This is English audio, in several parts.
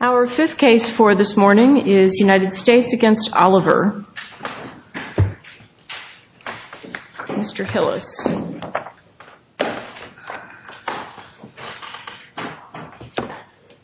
Our fifth case for this morning is United States v. Oliver. Mr. Hillis. Dan Hillis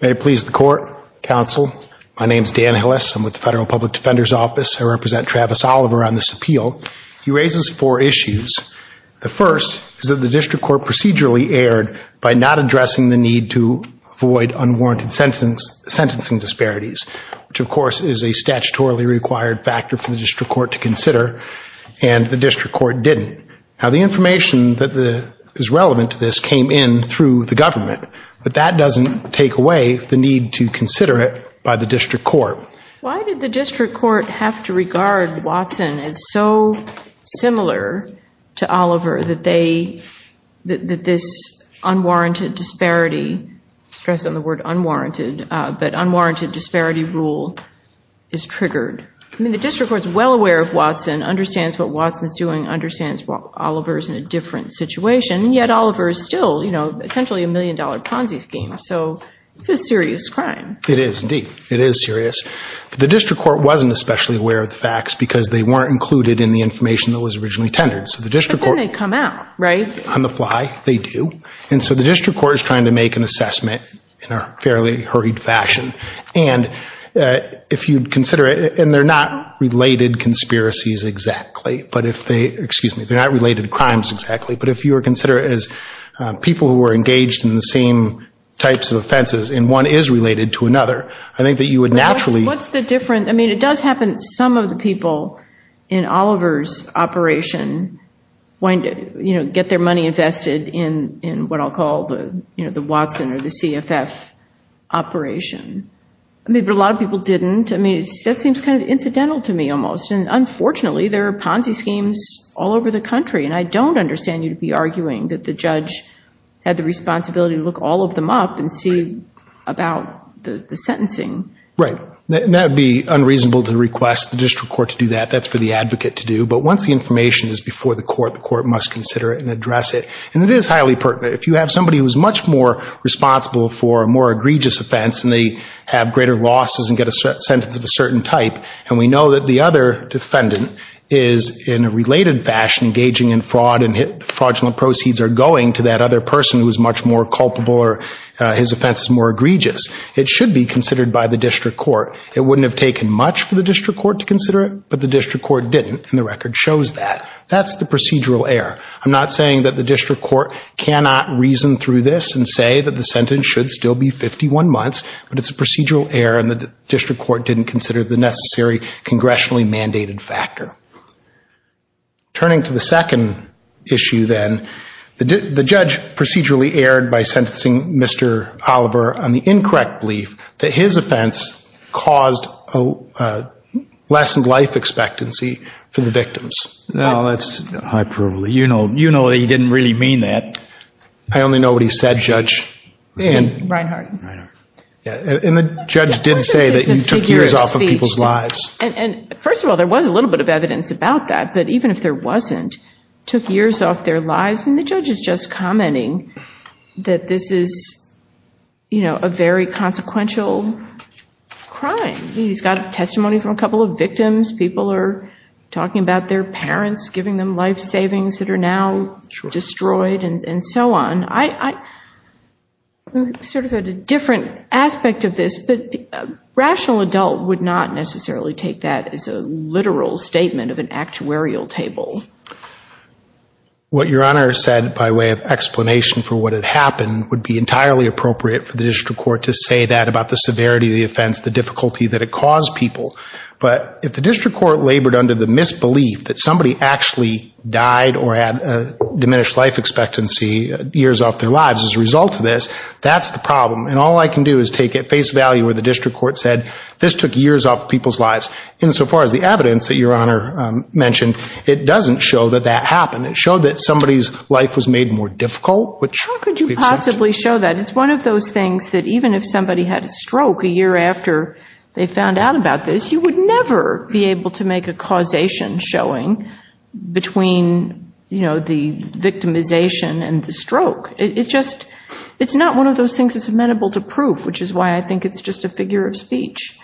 May it please the Court, Counsel. My name is Dan Hillis. I'm with the Federal Public Defender's Office. I represent Travis Oliver on this appeal. He raises four issues. The first is that the District Court procedurally erred by not addressing the need to avoid unwarranted sentencing disparities, which of course is a statutorily required factor for the District Court to consider, and the information that is relevant to this came in through the government. But that doesn't take away the need to consider it by the District Court. Why did the District Court have to regard Watson as so similar to Oliver that this unwarranted disparity, stress on the word unwarranted, but unwarranted disparity rule is triggered? I mean the District Court's well aware of Watson, understands what Watson's doing, understands what Oliver's in a different situation, yet Oliver's still, you know, essentially a million dollar Ponzi scheme. So it's a serious crime. It is indeed. It is serious. But the District Court wasn't especially aware of the facts because they weren't included in the information that was originally tendered. So the District Court... But then they come out, right? On the fly, they do. And so the District Court is trying to make an assessment in a fairly hurried fashion. And if you'd consider it, and they're not related conspiracies exactly, but if they, excuse me, they're not related crimes exactly, but if you were to consider it as people who were engaged in the same types of offenses and one is related to another, I think that you would naturally... What's the difference? I mean it does happen that some of the people in Oliver's operation wanted to get their money invested in what I'll call the Watson or the CFF operation. But a lot of people didn't. I mean that seems kind of incidental to me almost. And unfortunately there are Ponzi schemes all over the country. And I don't understand you to be arguing that the judge had the responsibility to look all of them up and see about the sentencing. Right. And that would be unreasonable to request the District Court to do that. That's for the advocate to do. But once the information is before the court, the court must consider it and address it. And it is highly pertinent. If you have somebody who is much more responsible for a more egregious offense and they have greater losses and get a sentence of a certain type and we know that the other defendant is in a related fashion engaging in fraud and fraudulent proceeds are going to that other person who is much more culpable or his offense is more egregious, it should be considered by the District Court. It wouldn't have taken much for the District Court to consider it, but the District Court didn't and the record shows that. That's the procedural error. I'm not saying that the District Court cannot reason through this and say that the sentence should still be 51 months, but it's a necessary congressionally mandated factor. Turning to the second issue then, the judge procedurally erred by sentencing Mr. Oliver on the incorrect belief that his offense caused a lessened life expectancy for the victims. No, that's hyperbole. You know that he didn't really mean that. I only know what he said, Judge. And the judge did say that you took years off of people's lives. And first of all, there was a little bit of evidence about that, but even if there wasn't, took years off their lives and the judge is just commenting that this is a very consequential crime. He's got testimony from a couple of victims. People are talking about their parents giving them life savings that are now destroyed and so on. I sort of had a different aspect of this, but a rational adult would not necessarily take that as a literal statement of an actuarial table. What Your Honor said by way of explanation for what had happened would be entirely appropriate for the District Court to say that about the severity of the offense, the difficulty that it caused people. But if the District Court labored under the misbelief that somebody actually died or had a diminished life expectancy years off their lives as a result of this, that's the problem. And all I can do is take it face value where the District Court said this took years off people's lives. Insofar as the evidence that Your Honor mentioned, it doesn't show that that happened. It showed that somebody's life was made more difficult. How could you possibly show that? It's one of those things that even if somebody had a stroke a year after they found out about this, you would never be able to make a causation showing between the victimization and the stroke. It's not one of those things that's amenable to proof, which is why I think it's just a figure of speech.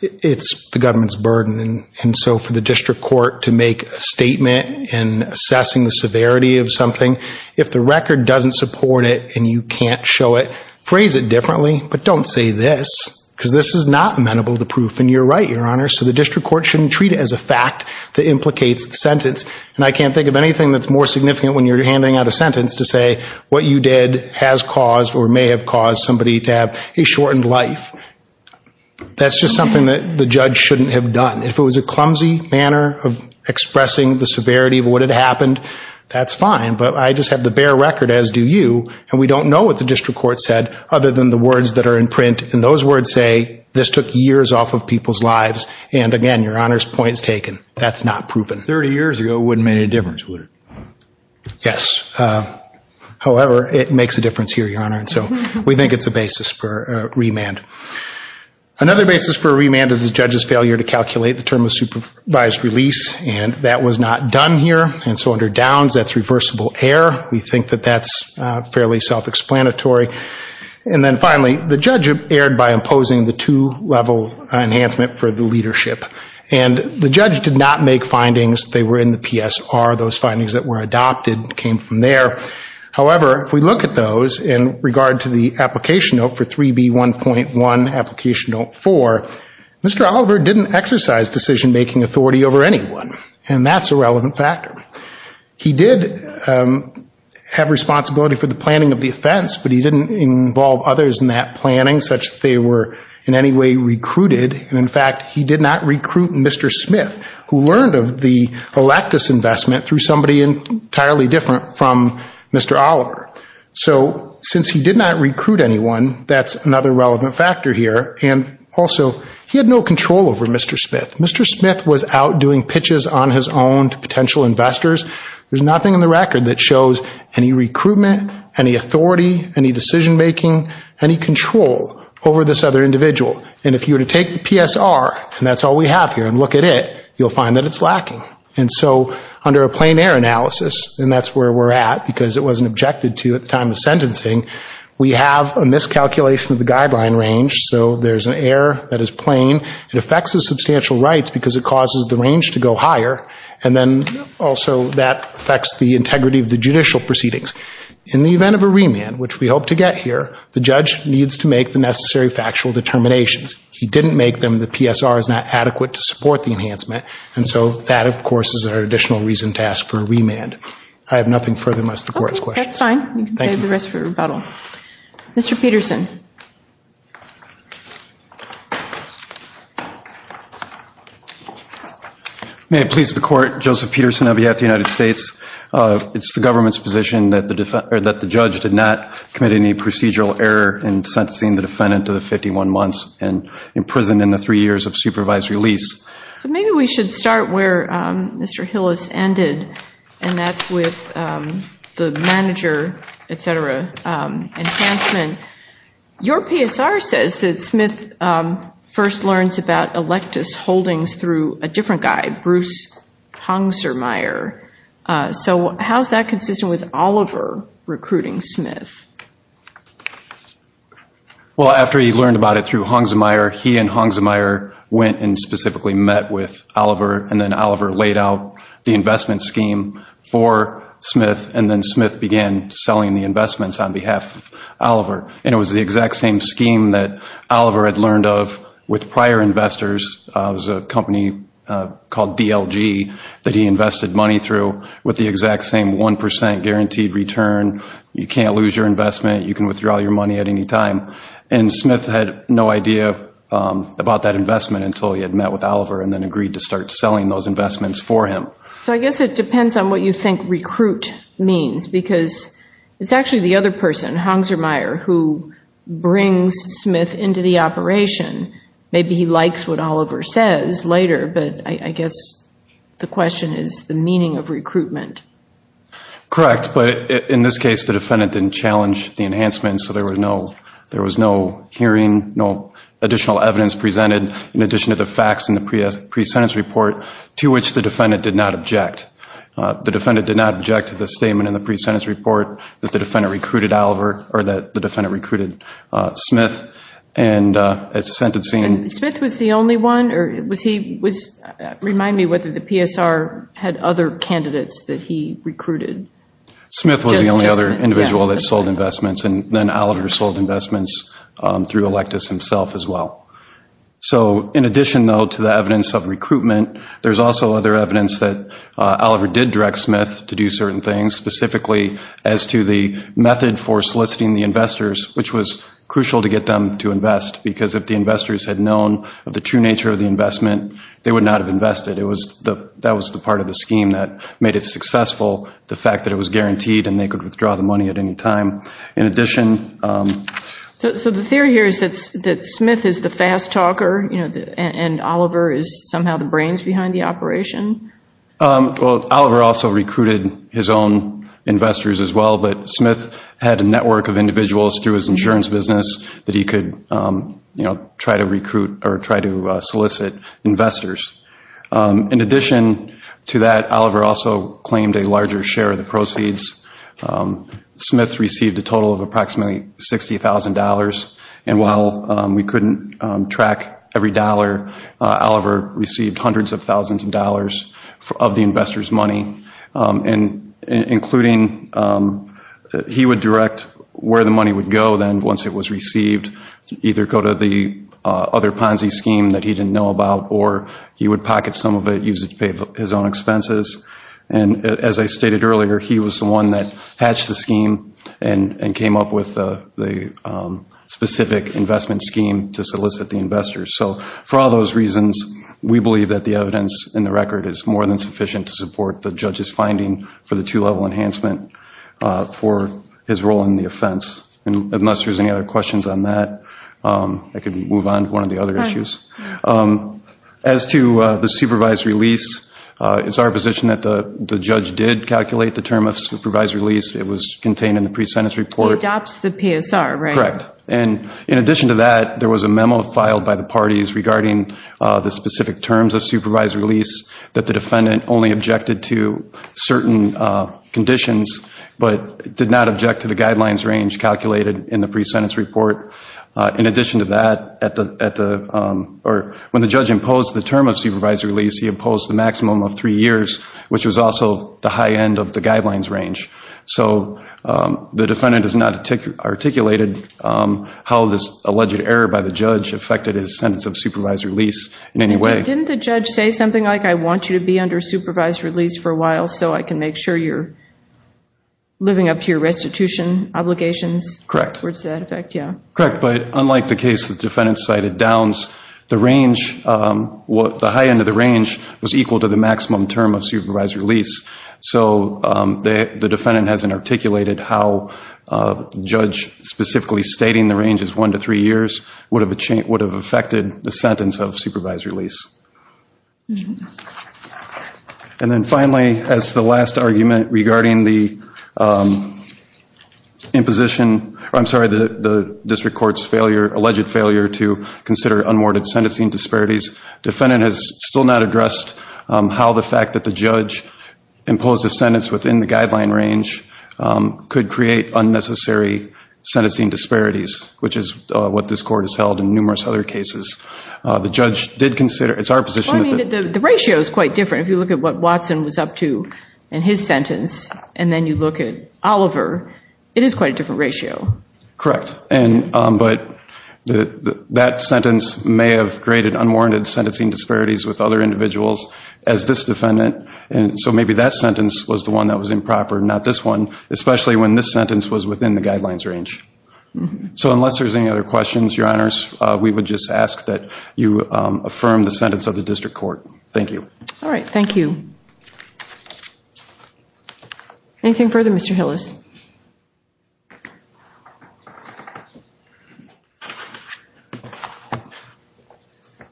It's the government's burden. And so for the District Court to make a statement in assessing the severity of something, if the record doesn't support it and you can't show it, phrase it differently, but don't say this, because this is not amenable to proof. And you're right, Your Honor. So the District Court shouldn't treat it as a fact that implicates the sentence. And I can't think of anything that's more significant when you're handing out a sentence to say what you did has caused or may have caused somebody to have a shortened life. That's just something that the judge shouldn't have done. If it was a clumsy manner of expressing the severity of what had happened, that's fine. But I just have the bare record, as do you, and we don't know what the District Court said other than the words that are in their lives. And again, Your Honor's point is taken. That's not proven. Thirty years ago wouldn't have made any difference, would it? Yes. However, it makes a difference here, Your Honor. And so we think it's a basis for a remand. Another basis for a remand is the judge's failure to calculate the term of supervised release. And that was not done here. And so under Downs, that's reversible error. We think that that's fairly self-explanatory. And then finally, the judge erred by imposing the two-level enhancement for the leadership. And the judge did not make findings. They were in the PSR. Those findings that were adopted came from there. However, if we look at those in regard to the application note for 3B1.1, application note 4, Mr. Oliver didn't exercise decision-making authority over anyone. And that's a relevant factor. He did have responsibility for the defense, but he didn't involve others in that planning, such that they were in any way recruited. And in fact, he did not recruit Mr. Smith, who learned of the Electus investment through somebody entirely different from Mr. Oliver. So since he did not recruit anyone, that's another relevant factor here. And also, he had no control over Mr. Smith. Mr. Smith was out doing pitches on his own to potential making any control over this other individual. And if you were to take the PSR, and that's all we have here, and look at it, you'll find that it's lacking. And so under a plain error analysis, and that's where we're at because it wasn't objected to at the time of sentencing, we have a miscalculation of the guideline range. So there's an error that is plain. It affects the substantial rights because it causes the range to go higher. And then also, that affects the integrity of the judicial proceedings. In the event of a remand, which we hope to get here, the judge needs to make the necessary factual determinations. He didn't make them. The PSR is not adequate to support the enhancement. And so that, of course, is our additional reason to ask for a remand. I have nothing further than to ask the court's questions. Okay, that's fine. You can save the rest for rebuttal. Mr. Peterson. May it please the court. Joseph Peterson on behalf of the United States. It's the government's position that the judge did not commit any procedural error in sentencing the defendant to the 51 months and imprisoned in the three years of supervised release. So maybe we should start where Mr. Hillis ended, and that's with the manager, et cetera, enhancement. Your PSR says that Smith first learns about electus holdings through a different guy, Bruce Hongzermeyer. So how's that consistent with Oliver recruiting Smith? Well, after he learned about it through Hongzermeyer, he and Hongzermeyer went and specifically met with Oliver, and then Oliver laid out the investment scheme for Smith, and then Smith began selling the investments on behalf of Oliver. And it was the exact same scheme that Oliver had learned of with prior investors. It was a company called DLG that he invested money through with the exact same 1% guaranteed return. You can't lose your investment. You can withdraw your money at any time. And Smith had no idea about that investment until he had met with Oliver and then agreed to start selling those investments for him. So I guess it depends on what you think recruit means, because it's actually the other person, Hongzermeyer, who brings Smith into the operation. Maybe he likes what Oliver says later, but I guess the question is the meaning of recruitment. Correct, but in this case, the defendant didn't challenge the enhancement, so there was no hearing, no additional evidence presented in addition to the facts in the pre-sentence report to which the defendant did not object. The defendant did not object to the statement in the pre-sentence report that the defendant recruited Smith. And it's a sentencing... And Smith was the only one, or was he, remind me whether the PSR had other candidates that he recruited? Smith was the only other individual that sold investments, and then Oliver sold investments through Electus himself as well. So in addition, though, to the evidence of recruitment, there's also other evidence that Oliver did direct Smith to do certain things, specifically as to the method for soliciting the investors, which was crucial to get them to invest, because if the investors had known of the true nature of the investment, they would not have invested. That was the part of the scheme that made it successful, the fact that it was guaranteed and they could withdraw the money at any time. In addition... So the theory here is that Smith is the fast talker, and Oliver is somehow the brains behind the operation? Well, Oliver also recruited his own investors as well, but Smith had a network of individuals through his insurance business that he could try to recruit or try to solicit investors. In addition to that, Oliver also claimed a larger share of the proceeds. Smith received a total of approximately $60,000, and while we couldn't track every dollar, Oliver received hundreds of thousands of dollars of the investors' money, including...he would direct where the money would go then once it was received, either go to the other Ponzi scheme that he didn't know about, or he would pocket some of it, use it to pay for his own expenses. And as I stated earlier, he was the one that hatched the scheme and came up with the specific investment scheme to solicit the investors. So for all those reasons, we believe that the evidence in the record is more than sufficient to support the judge's finding for the two-level enhancement for his role in the offense. And unless there's any other questions on that, I could move on to one of the other issues. As to the supervisory lease, it's our position that the judge did calculate the term of supervisory lease. It was contained in the pre-sentence report. He adopts the PSR, right? Correct. And in addition to that, there was a memo filed by the parties regarding the specific terms of supervisory lease that the defendant only objected to certain conditions, but did not object to the guidelines range calculated in the pre-sentence report. In addition to that, when the judge imposed the term of supervisory lease, he imposed the maximum of three years, which was also the high end of the guidelines range. So the defendant has not articulated how this alleged error by the judge affected his sentence of supervisory lease in any way. Didn't the judge say something like, I want you to be under supervisory lease for a while so I can make sure you're living up to your restitution obligations? Correct. Towards that effect, yeah. Correct, but unlike the case the defendant cited, Downs, the range, the high end of the defendant hasn't articulated how a judge specifically stating the range is one to three years would have affected the sentence of supervisory lease. And then finally, as the last argument regarding the imposition, or I'm sorry, the district court's alleged failure to consider unwarded sentencing disparities, defendant has still not addressed how the fact that the judge imposed a sentence within the guideline range could create unnecessary sentencing disparities, which is what this court has held in numerous other cases. The judge did consider, it's our position that the... The ratio is quite different. If you look at what Watson was up to in his sentence, and then you look at Oliver, it is quite a different ratio. Correct, but that sentence may have created unwarranted sentencing disparities with other individuals as this defendant, and so maybe that sentence was the one that was improper, not this one, especially when this sentence was within the guidelines range. So unless there's any other questions, Your Honors, we would just ask that you affirm the sentence of the district court. Thank you. All right, thank you. Anything further, Mr. Hillis?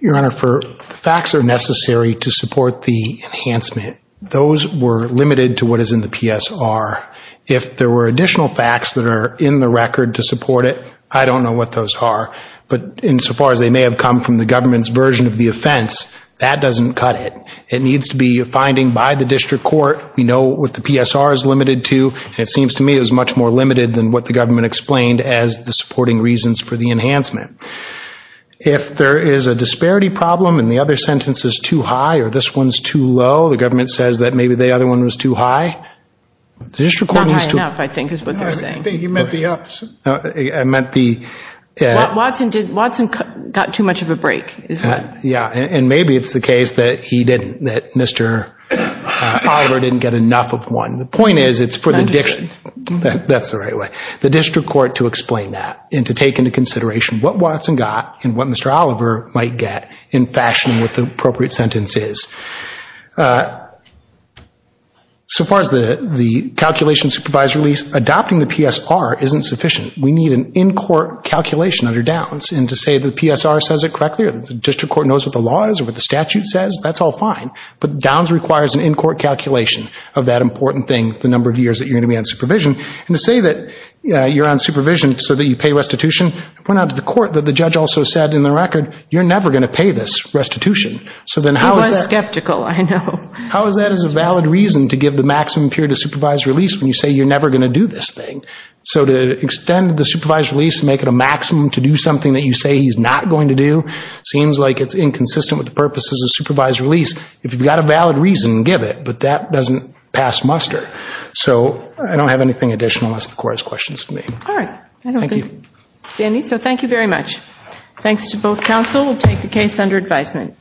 Your Honor, for facts that are necessary to support the enhancement, those were limited to what is in the PSR. If there were additional facts that are in the record to support it, I don't know what those are, but insofar as they may have come from the government's version of the offense, that doesn't cut it. It needs to be a finding by the district court. We believe, it seems to me, it was much more limited than what the government explained as the supporting reasons for the enhancement. If there is a disparity problem and the other sentence is too high or this one's too low, the government says that maybe the other one was too high. The district court needs to... Not high enough, I think, is what they're saying. I think he meant the ups. I meant the... Watson got too much of a break, is what... Yeah, and maybe it's the case that he didn't, that Mr. Oliver didn't get enough of one. The point is, it's for the... I understand. That's the right way. The district court to explain that and to take into consideration what Watson got and what Mr. Oliver might get in fashioning what the appropriate sentence is. So far as the calculation supervised release, adopting the PSR isn't sufficient. We need an in-court calculation under Downs and to say the PSR says it correctly or the district court knows what the law is or what the statute says, that's all fine, but Downs requires an in-court calculation of that important thing, the number of years that you're going to be on supervision. And to say that you're on supervision so that you pay restitution, I point out to the court that the judge also said in the record, you're never going to pay this restitution. So then how is that... He was skeptical, I know. How is that as a valid reason to give the maximum period of supervised release when you say you're never going to do this thing? So to extend the supervised release and make it a maximum to do something that you say he's not going to do, seems like it's inconsistent with the purposes of supervised release. If you've got a valid reason, give it, but that doesn't pass muster. So I don't have anything additional unless the court has questions for me. All right. I don't think there's any, so thank you very much. Thanks to both counsel. We'll take the case under advisement.